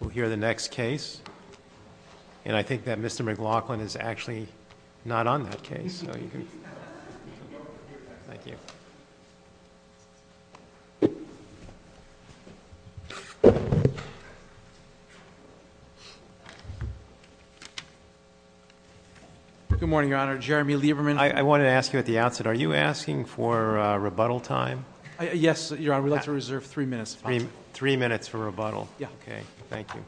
We'll hear the next case, and I think that Mr. McLaughlin is actually not on that case, so you can... Good morning, Your Honor. Jeremy Lieberman. I wanted to ask you at the outset, are you asking for rebuttal time? Yes, Your Honor. We'd like to reserve three minutes. Three minutes for rebuttal. Okay, thank you.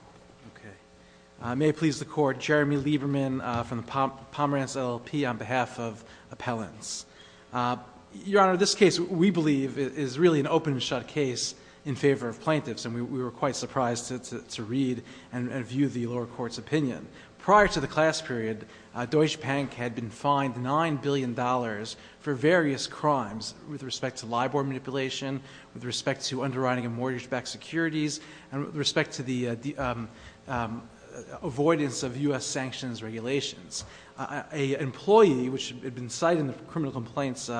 May it please the Court, Jeremy Lieberman from the Pomerantz LLP on behalf of Appellants. Your Honor, this case, we believe, is really an open and shut case in favor of plaintiffs, and we were quite surprised to read and view the lower court's opinion. Prior to the class period, Deutsche Bank had been fined $9 billion for various crimes, with respect to LIBOR manipulation, with respect to underwriting of mortgage-backed securities, and with respect to the avoidance of U.S. sanctions regulations. An employee, which had been cited in the criminal complaints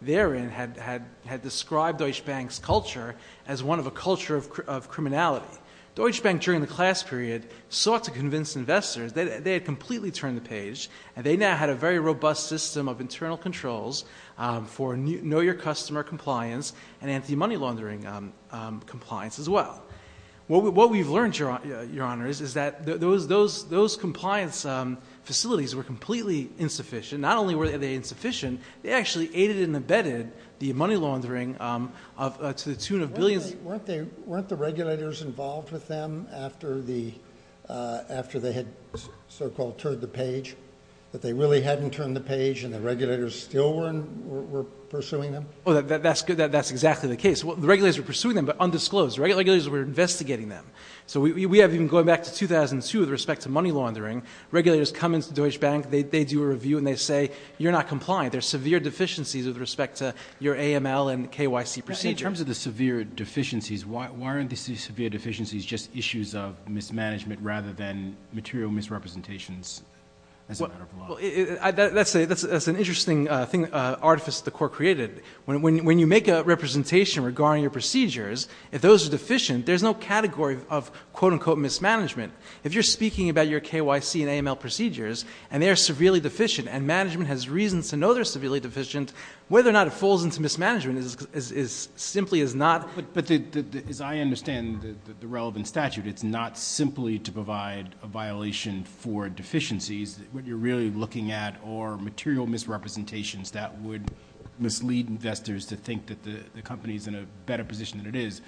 therein, had described Deutsche Bank's culture as one of a culture of criminality. Deutsche Bank, during the class period, sought to convince investors. They had completely turned the page, and they now had a very robust system of internal controls for know-your-customer compliance and anti-money laundering compliance as well. What we've learned, Your Honor, is that those compliance facilities were completely insufficient. Not only were they insufficient, they actually aided and abetted the money laundering to the tune of billions. Weren't the regulators involved with them after they had so-called turned the page, that they really hadn't turned the page and the regulators still were pursuing them? That's exactly the case. The regulators were pursuing them, but undisclosed. The regulators were investigating them. So we have, even going back to 2002, with respect to money laundering, regulators come into Deutsche Bank, they do a review, and they say, you're not compliant. There are severe deficiencies with respect to your AML and KYC procedures. In terms of the severe deficiencies, why aren't the severe deficiencies just issues of mismanagement rather than material misrepresentations as a matter of law? That's an interesting thing, an artifice the Court created. When you make a representation regarding your procedures, if those are deficient, there's no category of, quote-unquote, mismanagement. If you're speaking about your KYC and AML procedures, and they are severely deficient, and management has reason to know they're severely deficient, whether or not it falls into mismanagement is simply is not. But as I understand the relevant statute, it's not simply to provide a violation for deficiencies. What you're really looking at are material misrepresentations that would mislead investors to think that the company's in a better position than it is.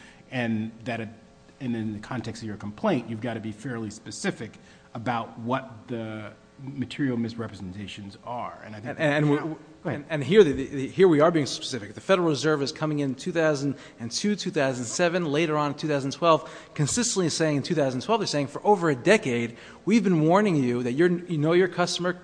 In the context of your complaint, you've got to be fairly specific about what the material misrepresentations are. Go ahead. Here we are being specific. The Federal Reserve is coming in 2002, 2007, later on in 2012, consistently saying in 2012, they're saying, for over a decade, we've been warning you that you know your customer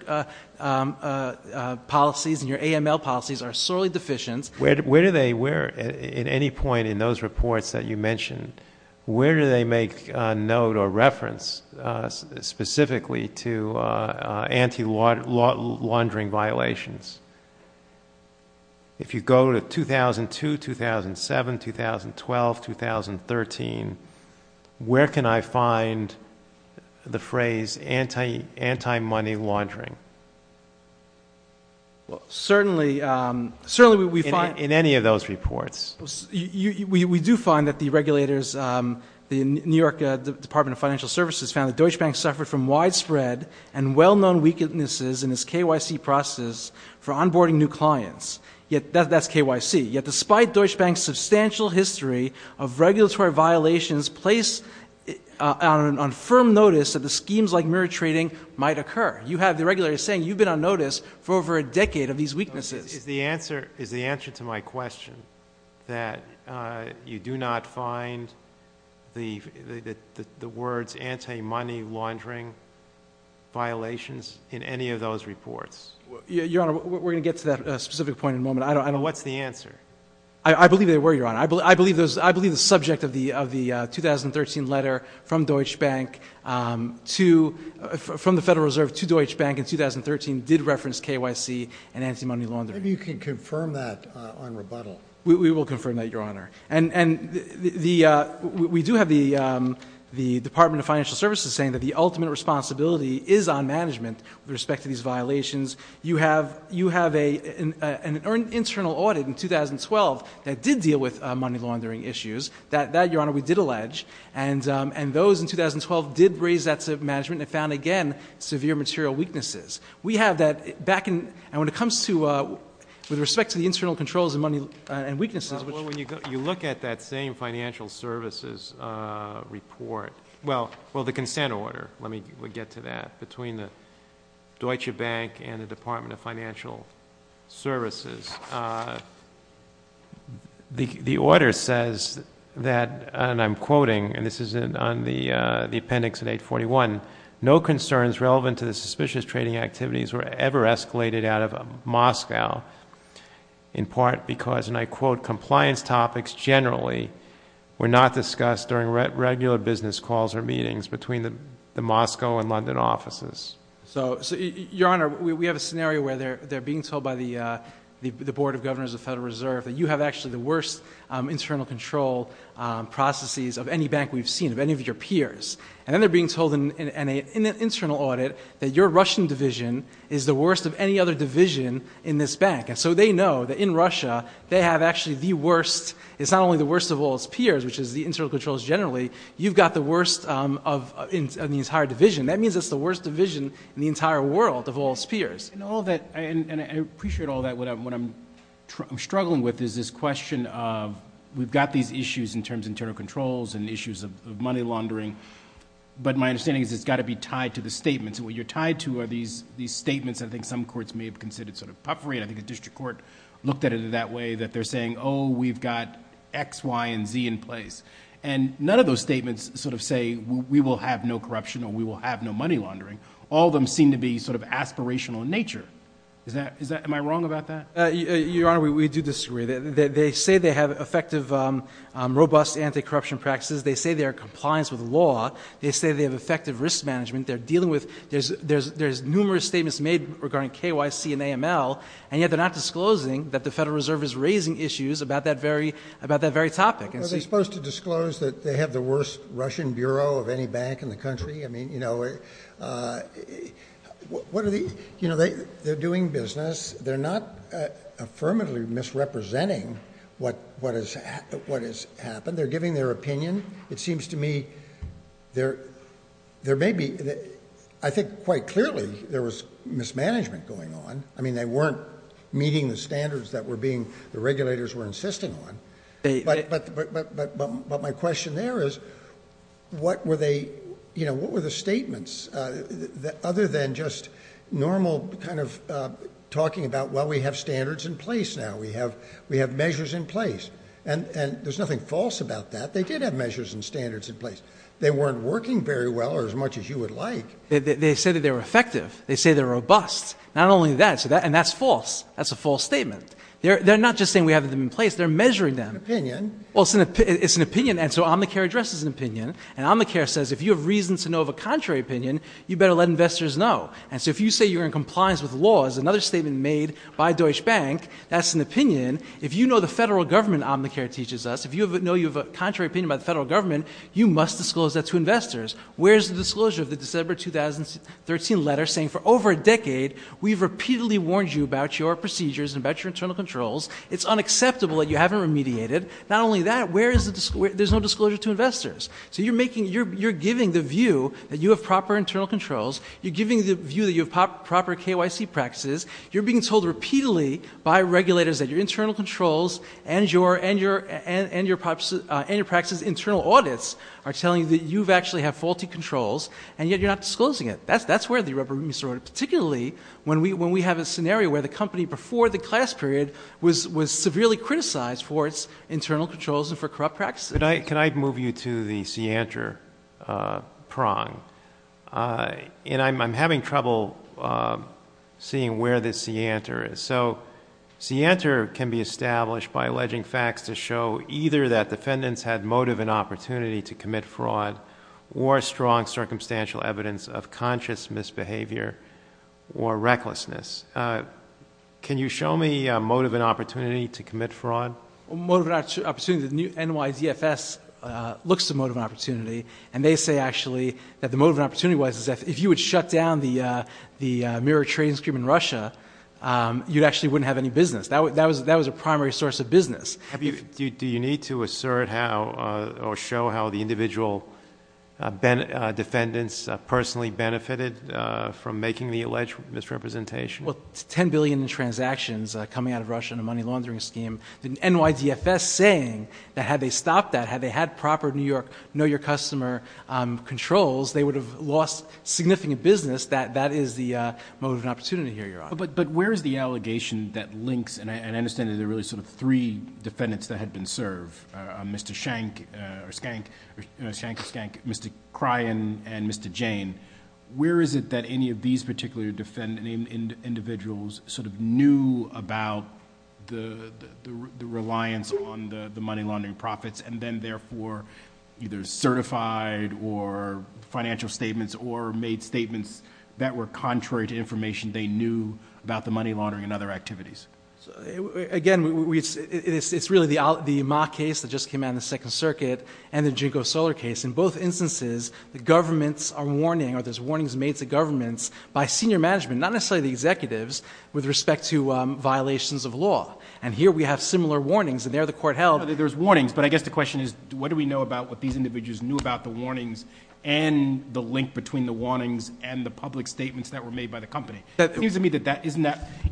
policies and your AML policies are sorely deficient. Where do they, at any point in those reports that you mentioned, where do they make note or reference specifically to anti-laundering violations? If you go to 2002, 2007, 2012, 2013, where can I find the phrase anti-money laundering? Well, certainly we find- In any of those reports. We do find that the regulators, the New York Department of Financial Services found that Deutsche Bank suffered from widespread and well-known weaknesses in its KYC process for onboarding new clients. Yet, that's KYC. Yet, despite Deutsche Bank's substantial history of regulatory violations placed on firm notice that the schemes like mirror trading might occur. You have the regulators saying you've been on notice for over a decade of these weaknesses. Is the answer to my question that you do not find the words anti-money laundering violations in any of those reports? Your Honor, we're going to get to that specific point in a moment. What's the answer? I believe they were, Your Honor. I believe the subject of the 2013 letter from the Federal Reserve to Deutsche Bank in 2013 did reference KYC and anti-money laundering. Maybe you can confirm that on rebuttal. We will confirm that, Your Honor. And we do have the Department of Financial Services saying that the ultimate responsibility is on management with respect to these violations. You have an internal audit in 2012 that did deal with money laundering issues. That, Your Honor, we did allege. And those in 2012 did raise that to management and found, again, severe material weaknesses. We have that back in — and when it comes to — with respect to the internal controls and money and weaknesses, which — You look at that same financial services report — well, the consent order. Let me get to that. Between the Deutsche Bank and the Department of Financial Services, the order says that, and I'm quoting, and this is on the appendix at 841, no concerns relevant to the suspicious trading activities were ever escalated out of Moscow, in part because, and I quote, compliance topics generally were not discussed during regular business calls or meetings between the Moscow and London offices. So, Your Honor, we have a scenario where they're being told by the Board of Governors of the Federal Reserve that you have actually the worst internal control processes of any bank we've seen, of any of your peers. And then they're being told in an internal audit that your Russian division is the worst of any other division in this bank. And so they know that in Russia, they have actually the worst — it's not only the worst of all its peers, which is the internal controls generally, you've got the worst of the entire division. That means it's the worst division in the entire world of all its peers. And all that — and I appreciate all that. What I'm struggling with is this question of we've got these issues in terms of internal controls and issues of money laundering, but my understanding is it's got to be tied to the statements. And what you're tied to are these statements I think some courts may have considered sort of puffery. I think the district court looked at it that way, that they're saying, oh, we've got X, Y, and Z in place. And none of those statements sort of say we will have no corruption or we will have no money laundering. All of them seem to be sort of aspirational in nature. Am I wrong about that? Your Honor, we do disagree. They say they have effective, robust anti-corruption practices. They say they are in compliance with the law. They say they have effective risk management. They're dealing with — there's numerous statements made regarding KYC and AML, and yet they're not disclosing that the Federal Reserve is raising issues about that very topic. Are they supposed to disclose that they have the worst Russian bureau of any bank in the country? I mean, you know, they're doing business. They're not affirmatively misrepresenting what has happened. They're giving their opinion. It seems to me there may be — I think quite clearly there was mismanagement going on. I mean, they weren't meeting the standards that the regulators were insisting on. But my question there is what were the statements other than just normal kind of talking about, well, we have standards in place now. We have measures in place. And there's nothing false about that. They did have measures and standards in place. They weren't working very well or as much as you would like. They say that they're effective. They say they're robust. Not only that, and that's false. That's a false statement. They're not just saying we have them in place. They're measuring them. An opinion. Well, it's an opinion. And so Omnicare addresses an opinion. And Omnicare says if you have reason to know of a contrary opinion, you better let investors know. And so if you say you're in compliance with laws, another statement made by Deutsche Bank, that's an opinion. If you know the federal government Omnicare teaches us, if you know you have a contrary opinion about the federal government, you must disclose that to investors. Where's the disclosure of the December 2013 letter saying for over a decade we've repeatedly warned you about your procedures and about your internal controls. It's unacceptable that you haven't remediated. Not only that, there's no disclosure to investors. So you're giving the view that you have proper internal controls. You're giving the view that you have proper KYC practices. You're being told repeatedly by regulators that your internal controls and your practices, internal audits are telling you that you actually have faulty controls, and yet you're not disclosing it. That's where the rubber meets the road, particularly when we have a scenario where the company before the class period was severely criticized for its internal controls and for corrupt practices. Can I move you to the CIANTR prong? And I'm having trouble seeing where the CIANTR is. So CIANTR can be established by alleging facts to show either that defendants had motive and opportunity to commit fraud or strong circumstantial evidence of conscious misbehavior or recklessness. Can you show me motive and opportunity to commit fraud? Motive and opportunity, the NYDFS looks to motive and opportunity, and they say actually that the motive and opportunity was if you would shut down the mirror trading scheme in Russia, you actually wouldn't have any business. That was a primary source of business. Do you need to assert how or show how the individual defendants personally benefited from making the alleged misrepresentation? Well, 10 billion in transactions coming out of Russia in a money laundering scheme, the NYDFS saying that had they stopped that, had they had proper New York know-your-customer controls, they would have lost significant business. That is the motive and opportunity here, Your Honor. But where is the allegation that links, and I understand that there are really three defendants that had been served, Mr. Schenck, Mr. Kryan, and Mr. Jane. Where is it that any of these particular individuals knew about the reliance on the money laundering profits and then therefore either certified or financial statements or made statements that were contrary to information they knew about the money laundering and other activities? Again, it's really the Ma case that just came out in the Second Circuit and the JNCO Solar case. In both instances, the governments are warning or there's warnings made to governments by senior management, not necessarily the executives, with respect to violations of law. And here we have similar warnings, and there the court held. There's warnings, but I guess the question is what do we know about what these individuals knew about the warnings and the link between the warnings and the public statements that were made by the company? It seems to me that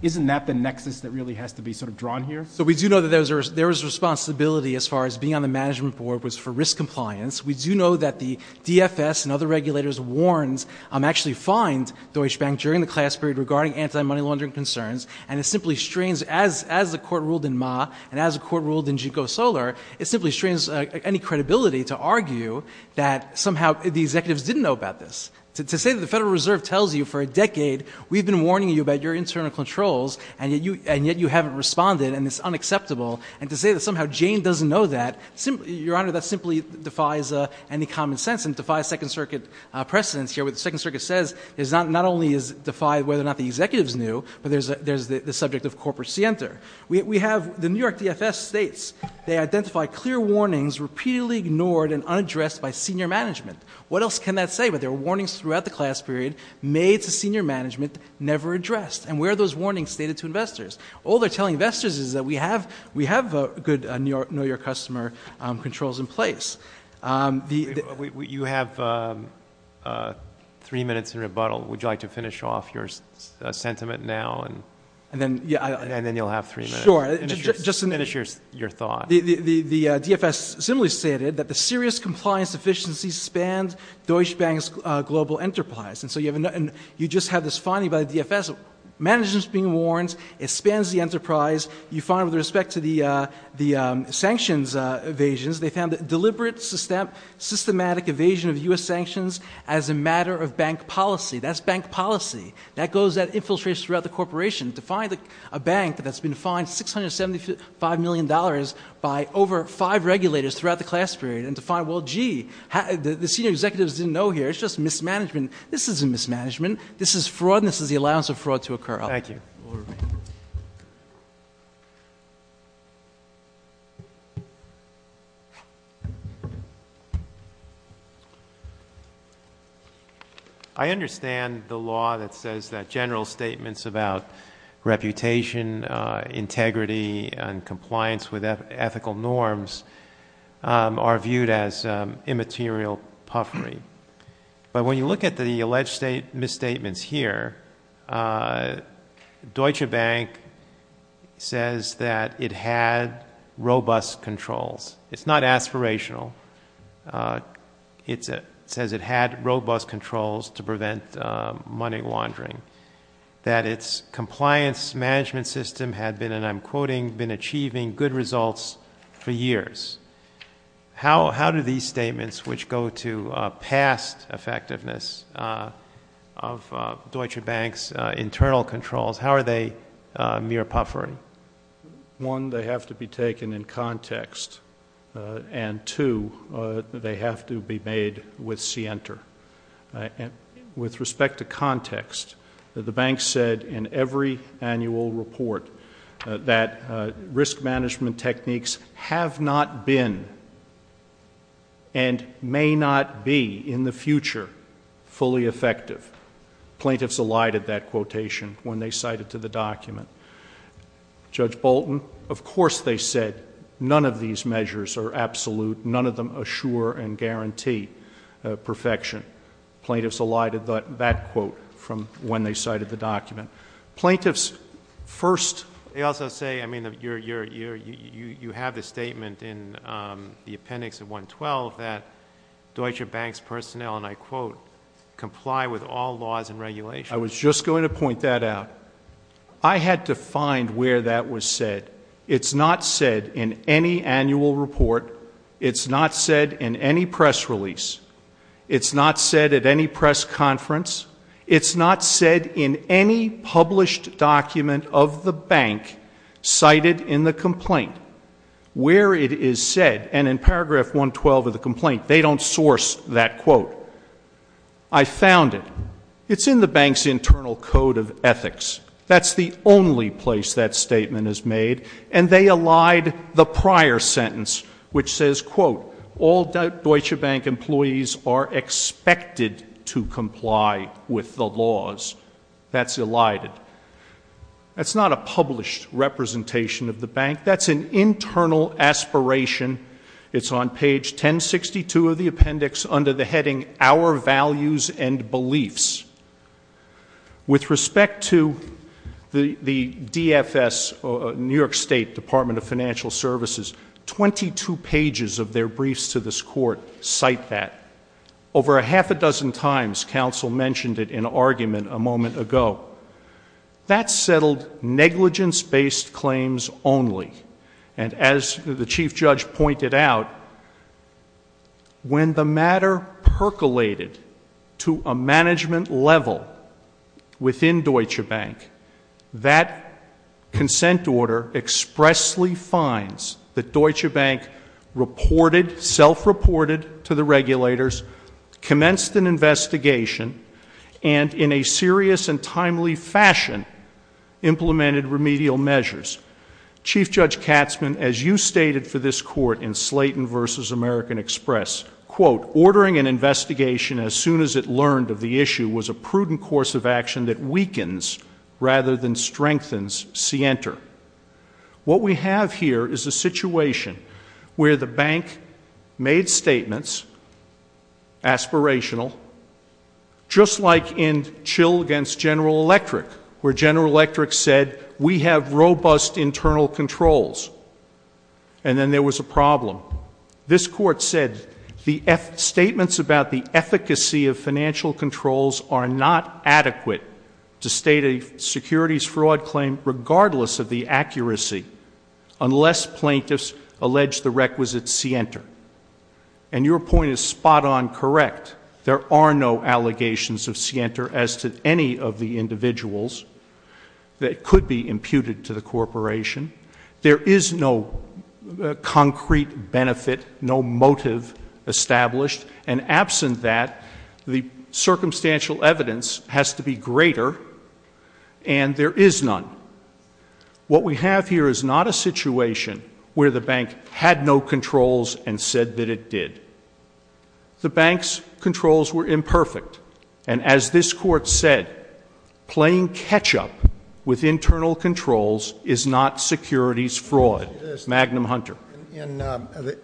isn't that the nexus that really has to be sort of drawn here? So we do know that there was responsibility as far as being on the management board was for risk compliance. We do know that the DFS and other regulators warned, actually fined Deutsche Bank during the class period regarding anti-money laundering concerns, and it simply strains, as the court ruled in Ma and as the court ruled in JNCO Solar, it simply strains any credibility to argue that somehow the executives didn't know about this. To say that the Federal Reserve tells you for a decade we've been warning you about your internal controls, and yet you haven't responded and it's unacceptable, and to say that somehow Jane doesn't know that, Your Honor, that simply defies any common sense and defies Second Circuit precedence here. What the Second Circuit says is not only does it defy whether or not the executives knew, but there's the subject of corporate scienter. The New York DFS states they identify clear warnings repeatedly ignored and unaddressed by senior management. What else can that say? But there were warnings throughout the class period made to senior management, never addressed. And where are those warnings stated to investors? All they're telling investors is that we have good New York customer controls in place. You have three minutes in rebuttal. Would you like to finish off your sentiment now? And then you'll have three minutes. Sure. Finish your thought. The DFS similarly stated that the serious compliance deficiencies spanned Deutsche Bank's global enterprise. And so you just have this finding by the DFS. Management's being warned. It spans the enterprise. You find with respect to the sanctions evasions, they found that deliberate systematic evasion of U.S. sanctions as a matter of bank policy. That's bank policy. That infiltrates throughout the corporation. To find a bank that's been fined $675 million by over five regulators throughout the class period, and to find, well, gee, the senior executives didn't know here. It's just mismanagement. This isn't mismanagement. This is fraud, and this is the allowance of fraud to occur. Thank you. We'll remain. Thank you. I understand the law that says that general statements about reputation, integrity, and compliance with ethical norms are viewed as immaterial puffery. But when you look at the alleged misstatements here, Deutsche Bank says that it had robust controls. It's not aspirational. It says it had robust controls to prevent money laundering, that its compliance management system had been, and I'm quoting, been achieving good results for years. How do these statements, which go to past effectiveness of Deutsche Bank's internal controls, how are they mere puffery? One, they have to be taken in context. And, two, they have to be made with scienter. With respect to context, the bank said in every annual report that risk management techniques have not been and may not be in the future fully effective. Plaintiffs elided that quotation when they cited to the document. Judge Bolton, of course they said none of these measures are absolute, none of them assure and guarantee perfection. Plaintiffs elided that quote from when they cited the document. Plaintiffs first. They also say, I mean, you have the statement in the appendix of 112 that Deutsche Bank's personnel, and I quote, comply with all laws and regulations. I was just going to point that out. I had to find where that was said. It's not said in any annual report. It's not said in any press release. It's not said at any press conference. It's not said in any published document of the bank cited in the complaint. Where it is said, and in paragraph 112 of the complaint, they don't source that quote. I found it. It's in the bank's internal code of ethics. That's the only place that statement is made. And they elided the prior sentence, which says, quote, all Deutsche Bank employees are expected to comply with the laws. That's elided. That's not a published representation of the bank. That's an internal aspiration. It's on page 1062 of the appendix under the heading our values and beliefs. With respect to the DFS, New York State Department of Financial Services, 22 pages of their briefs to this court cite that. Over a half a dozen times, counsel mentioned it in argument a moment ago. That settled negligence-based claims only. And as the chief judge pointed out, when the matter percolated to a management level within Deutsche Bank, that consent order expressly finds that Deutsche Bank reported, self-reported to the regulators, commenced an investigation, and in a serious and timely fashion implemented remedial measures. Chief Judge Katzmann, as you stated for this court in Slayton v. American Express, quote, ordering an investigation as soon as it learned of the issue was a prudent course of action that weakens rather than strengthens scienter. What we have here is a situation where the bank made statements, aspirational, just like in Chill v. General Electric, where General Electric said, we have robust internal controls. And then there was a problem. This court said, the statements about the efficacy of financial controls are not adequate to state a securities fraud claim, regardless of the accuracy, unless plaintiffs allege the requisite scienter. And your point is spot on correct. There are no allegations of scienter as to any of the individuals that could be imputed to the corporation. There is no concrete benefit, no motive established. And absent that, the circumstantial evidence has to be greater, and there is none. What we have here is not a situation where the bank had no controls and said that it did. The bank's controls were imperfect. And as this court said, playing catch up with internal controls is not securities fraud. Magnum Hunter.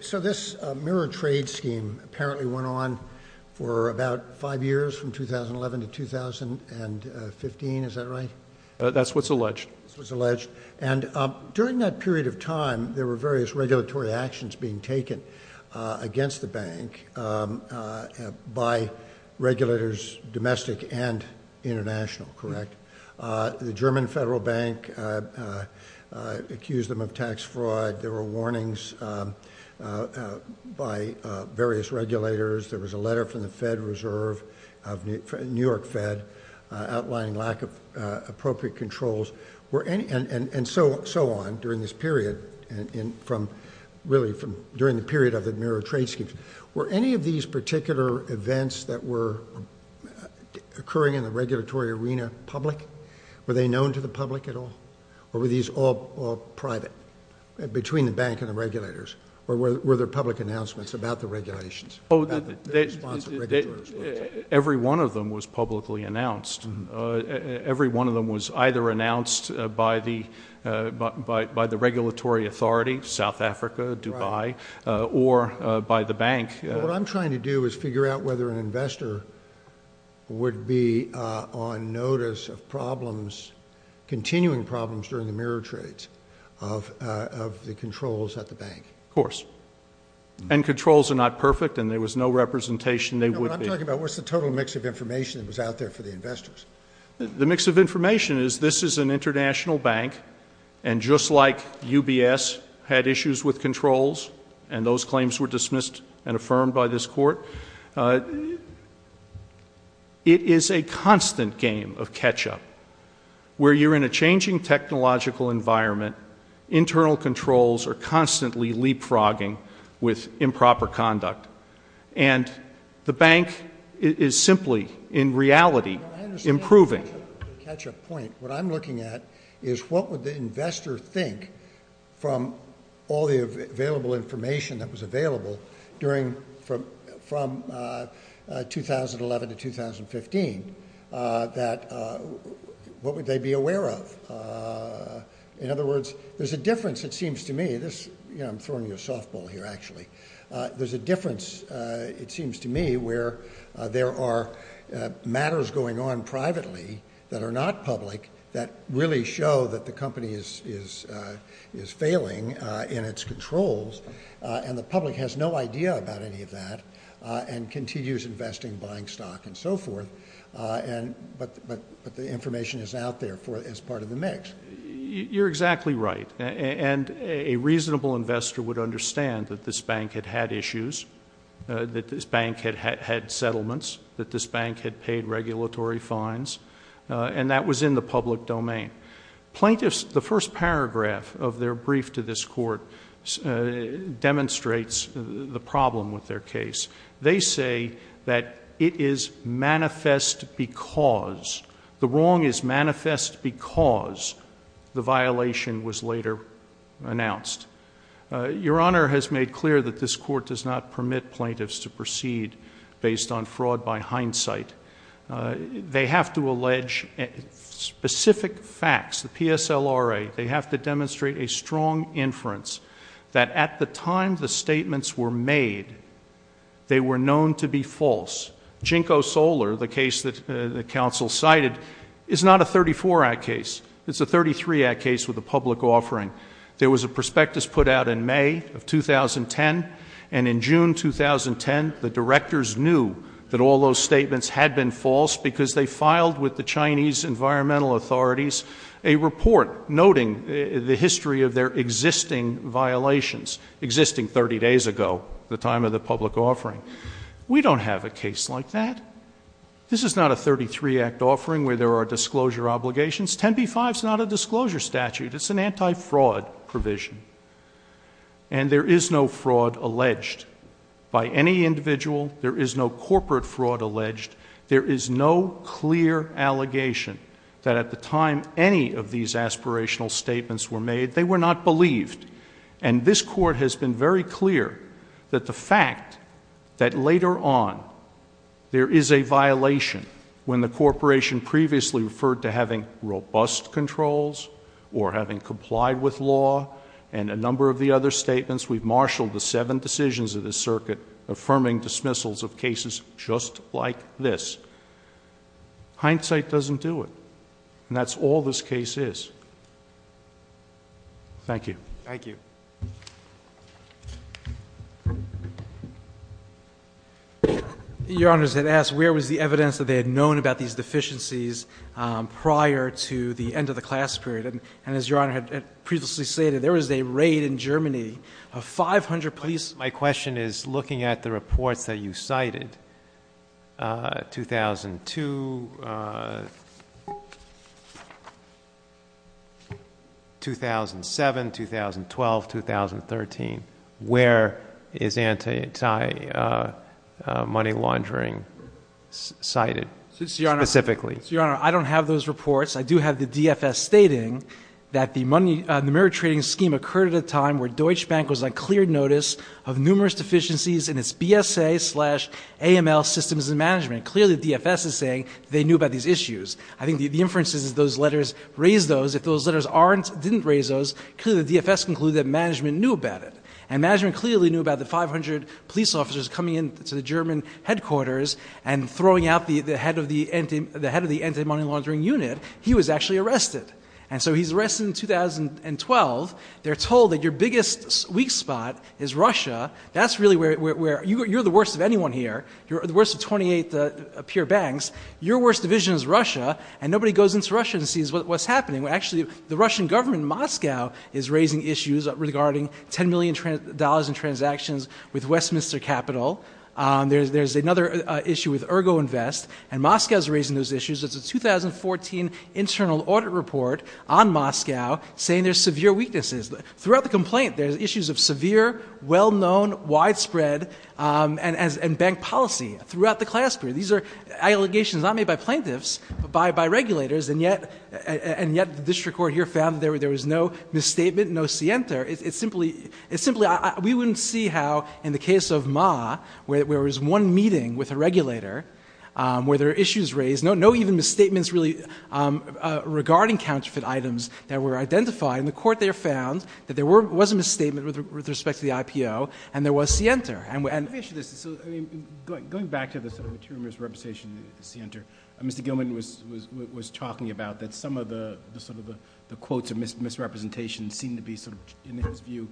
So this mirror trade scheme apparently went on for about five years, from 2011 to 2015. Is that right? That's what's alleged. And during that period of time, there were various regulatory actions being taken against the bank by regulators, domestic and international, correct? The German Federal Bank accused them of tax fraud. There were warnings by various regulators. There was a letter from the Fed Reserve, New York Fed, outlining lack of appropriate controls. And so on during this period, really during the period of the mirror trade schemes. Were any of these particular events that were occurring in the regulatory arena public? Were they known to the public at all? Or were these all private, between the bank and the regulators? Or were there public announcements about the regulations? Every one of them was publicly announced. Every one of them was either announced by the regulatory authority, South Africa, Dubai, or by the bank. What I'm trying to do is figure out whether an investor would be on notice of problems, continuing problems, during the mirror trades of the controls at the bank. Of course. And controls are not perfect, and there was no representation they would be. Can you talk about what's the total mix of information that was out there for the investors? The mix of information is this is an international bank. And just like UBS had issues with controls, and those claims were dismissed and affirmed by this court, it is a constant game of catch-up. Where you're in a changing technological environment, internal controls are constantly leapfrogging with improper conduct. And the bank is simply, in reality, improving. Catch-up point. What I'm looking at is what would the investor think from all the available information that was available from 2011 to 2015? What would they be aware of? In other words, there's a difference, it seems to me. I'm throwing you a softball here, actually. There's a difference, it seems to me, where there are matters going on privately that are not public that really show that the company is failing in its controls. And the public has no idea about any of that and continues investing, buying stock, and so forth. But the information is out there as part of the mix. You're exactly right. And a reasonable investor would understand that this bank had had issues, that this bank had had settlements, that this bank had paid regulatory fines, and that was in the public domain. Plaintiffs, the first paragraph of their brief to this court demonstrates the problem with their case. They say that it is manifest because, the wrong is manifest because the violation was later announced. Your Honor has made clear that this court does not permit plaintiffs to proceed based on fraud by hindsight. They have to allege specific facts, the PSLRA. They have to demonstrate a strong inference that at the time the statements were made, they were known to be false. JNCO Solar, the case that the counsel cited, is not a 34-act case. It's a 33-act case with a public offering. There was a prospectus put out in May of 2010, and in June 2010, the directors knew that all those statements had been false because they filed with the Chinese environmental authorities a report noting the history of their existing violations, existing 30 days ago, the time of the public offering. We don't have a case like that. This is not a 33-act offering where there are disclosure obligations. 10b-5 is not a disclosure statute. It's an anti-fraud provision, and there is no fraud alleged by any individual. There is no corporate fraud alleged. There is no clear allegation that at the time any of these aspirational statements were made, they were not believed, and this court has been very clear that the fact that later on there is a violation when the corporation previously referred to having robust controls or having complied with law and a number of the other statements, we've marshaled the seven decisions of the circuit affirming dismissals of cases just like this. Hindsight doesn't do it, and that's all this case is. Thank you. Thank you. Your Honor, I was going to ask, where was the evidence that they had known about these deficiencies prior to the end of the class period? And as Your Honor had previously stated, there was a raid in Germany of 500 police. My question is looking at the reports that you cited, 2002, 2007, 2012, 2013. Where is anti-money laundering cited specifically? So, Your Honor, I don't have those reports. I do have the DFS stating that the money, clearly the DFS is saying they knew about these issues. I think the inference is those letters raised those. If those letters didn't raise those, clearly the DFS concluded that management knew about it, and management clearly knew about the 500 police officers coming into the German headquarters and throwing out the head of the anti-money laundering unit. He was actually arrested, and so he's arrested in 2012. They're told that your biggest weak spot is Russia. That's really where you're the worst of anyone here. You're the worst of 28 peer banks. Your worst division is Russia, and nobody goes into Russia and sees what's happening. Actually, the Russian government in Moscow is raising issues regarding $10 million in transactions with Westminster Capital. There's another issue with Ergo Invest, and Moscow's raising those issues. It's a 2014 internal audit report on Moscow saying there's severe weaknesses. Throughout the complaint, there's issues of severe, well-known, widespread, and bank policy throughout the class period. These are allegations not made by plaintiffs, but by regulators, and yet the district court here found that there was no misstatement, no scienter. It's simply we wouldn't see how in the case of Ma, where there was one meeting with a regulator, where there were issues raised, no even misstatements really regarding counterfeit items that were identified. In the court, they found that there was a misstatement with respect to the IPO, and there was scienter. Let me ask you this. Going back to this material misrepresentation of scienter, Mr. Gilman was talking about that some of the quotes of misrepresentation seem to be, in his view,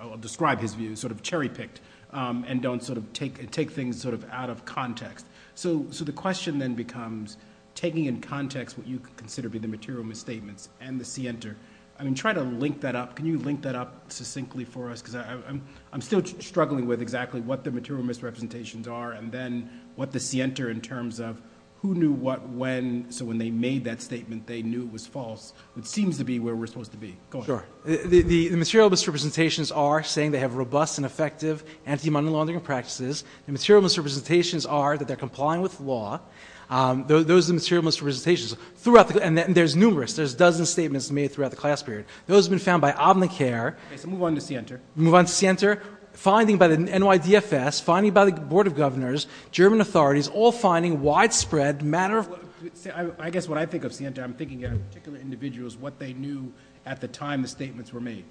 I'll describe his view, sort of cherry-picked and don't take things out of context. So the question then becomes taking in context what you consider to be the material misstatements and the scienter. I mean, try to link that up. Can you link that up succinctly for us? Because I'm still struggling with exactly what the material misrepresentations are and then what the scienter in terms of who knew what when. So when they made that statement, they knew it was false, which seems to be where we're supposed to be. Go ahead. The material misrepresentations are saying they have robust and effective anti-money laundering practices. The material misrepresentations are that they're complying with law. Those are the material misrepresentations. And there's numerous. There's dozens of statements made throughout the class period. Those have been found by Obamacare. Okay, so move on to scienter. Move on to scienter. Finding by the NYDFS, finding by the Board of Governors, German authorities, all finding widespread, matter of fact. I guess when I think of scienter, I'm thinking of particular individuals, what they knew at the time the statements were made.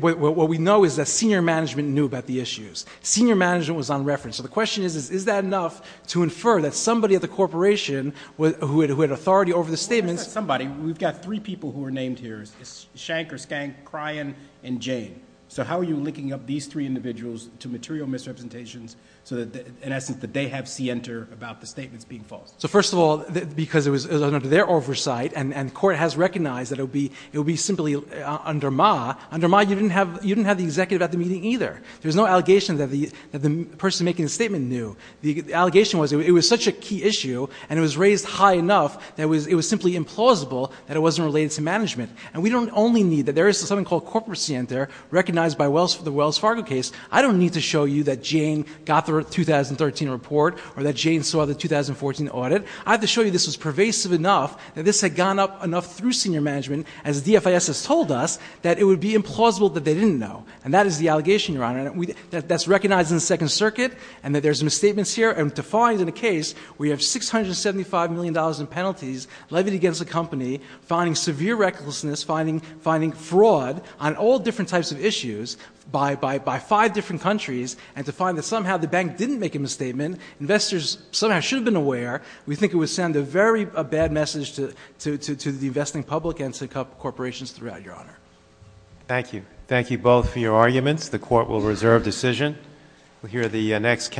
What we know is that senior management knew about the issues. Senior management was on reference. So the question is, is that enough to infer that somebody at the corporation who had authority over the statements. Well, it's not somebody. We've got three people who are named here, Shanker, Skank, Kryan, and Jane. So how are you linking up these three individuals to material misrepresentations so that, in essence, that they have scienter about the statements being false? So first of all, because it was under their oversight and court has recognized that it would be simply under Ma. Under Ma, you didn't have the executive at the meeting either. There was no allegation that the person making the statement knew. The allegation was it was such a key issue and it was raised high enough that it was simply implausible that it wasn't related to management. And we don't only need that. There is something called corporate scienter recognized by the Wells Fargo case. I don't need to show you that Jane got the 2013 report or that Jane saw the 2014 audit. I have to show you this was pervasive enough that this had gone up enough through senior management, as the DFIS has told us, that it would be implausible that they didn't know. And that is the allegation, Your Honor, that's recognized in the Second Circuit and that there's misstatements here. And to find in a case where you have $675 million in penalties levied against a company, finding severe recklessness, finding fraud on all different types of issues by five different countries, and to find that somehow the bank didn't make a misstatement, investors somehow should have been aware, we think it would send a very bad message to the investing public and to corporations throughout, Your Honor. Thank you. Thank you both for your arguments. The court will reserve decision. We'll hear the next.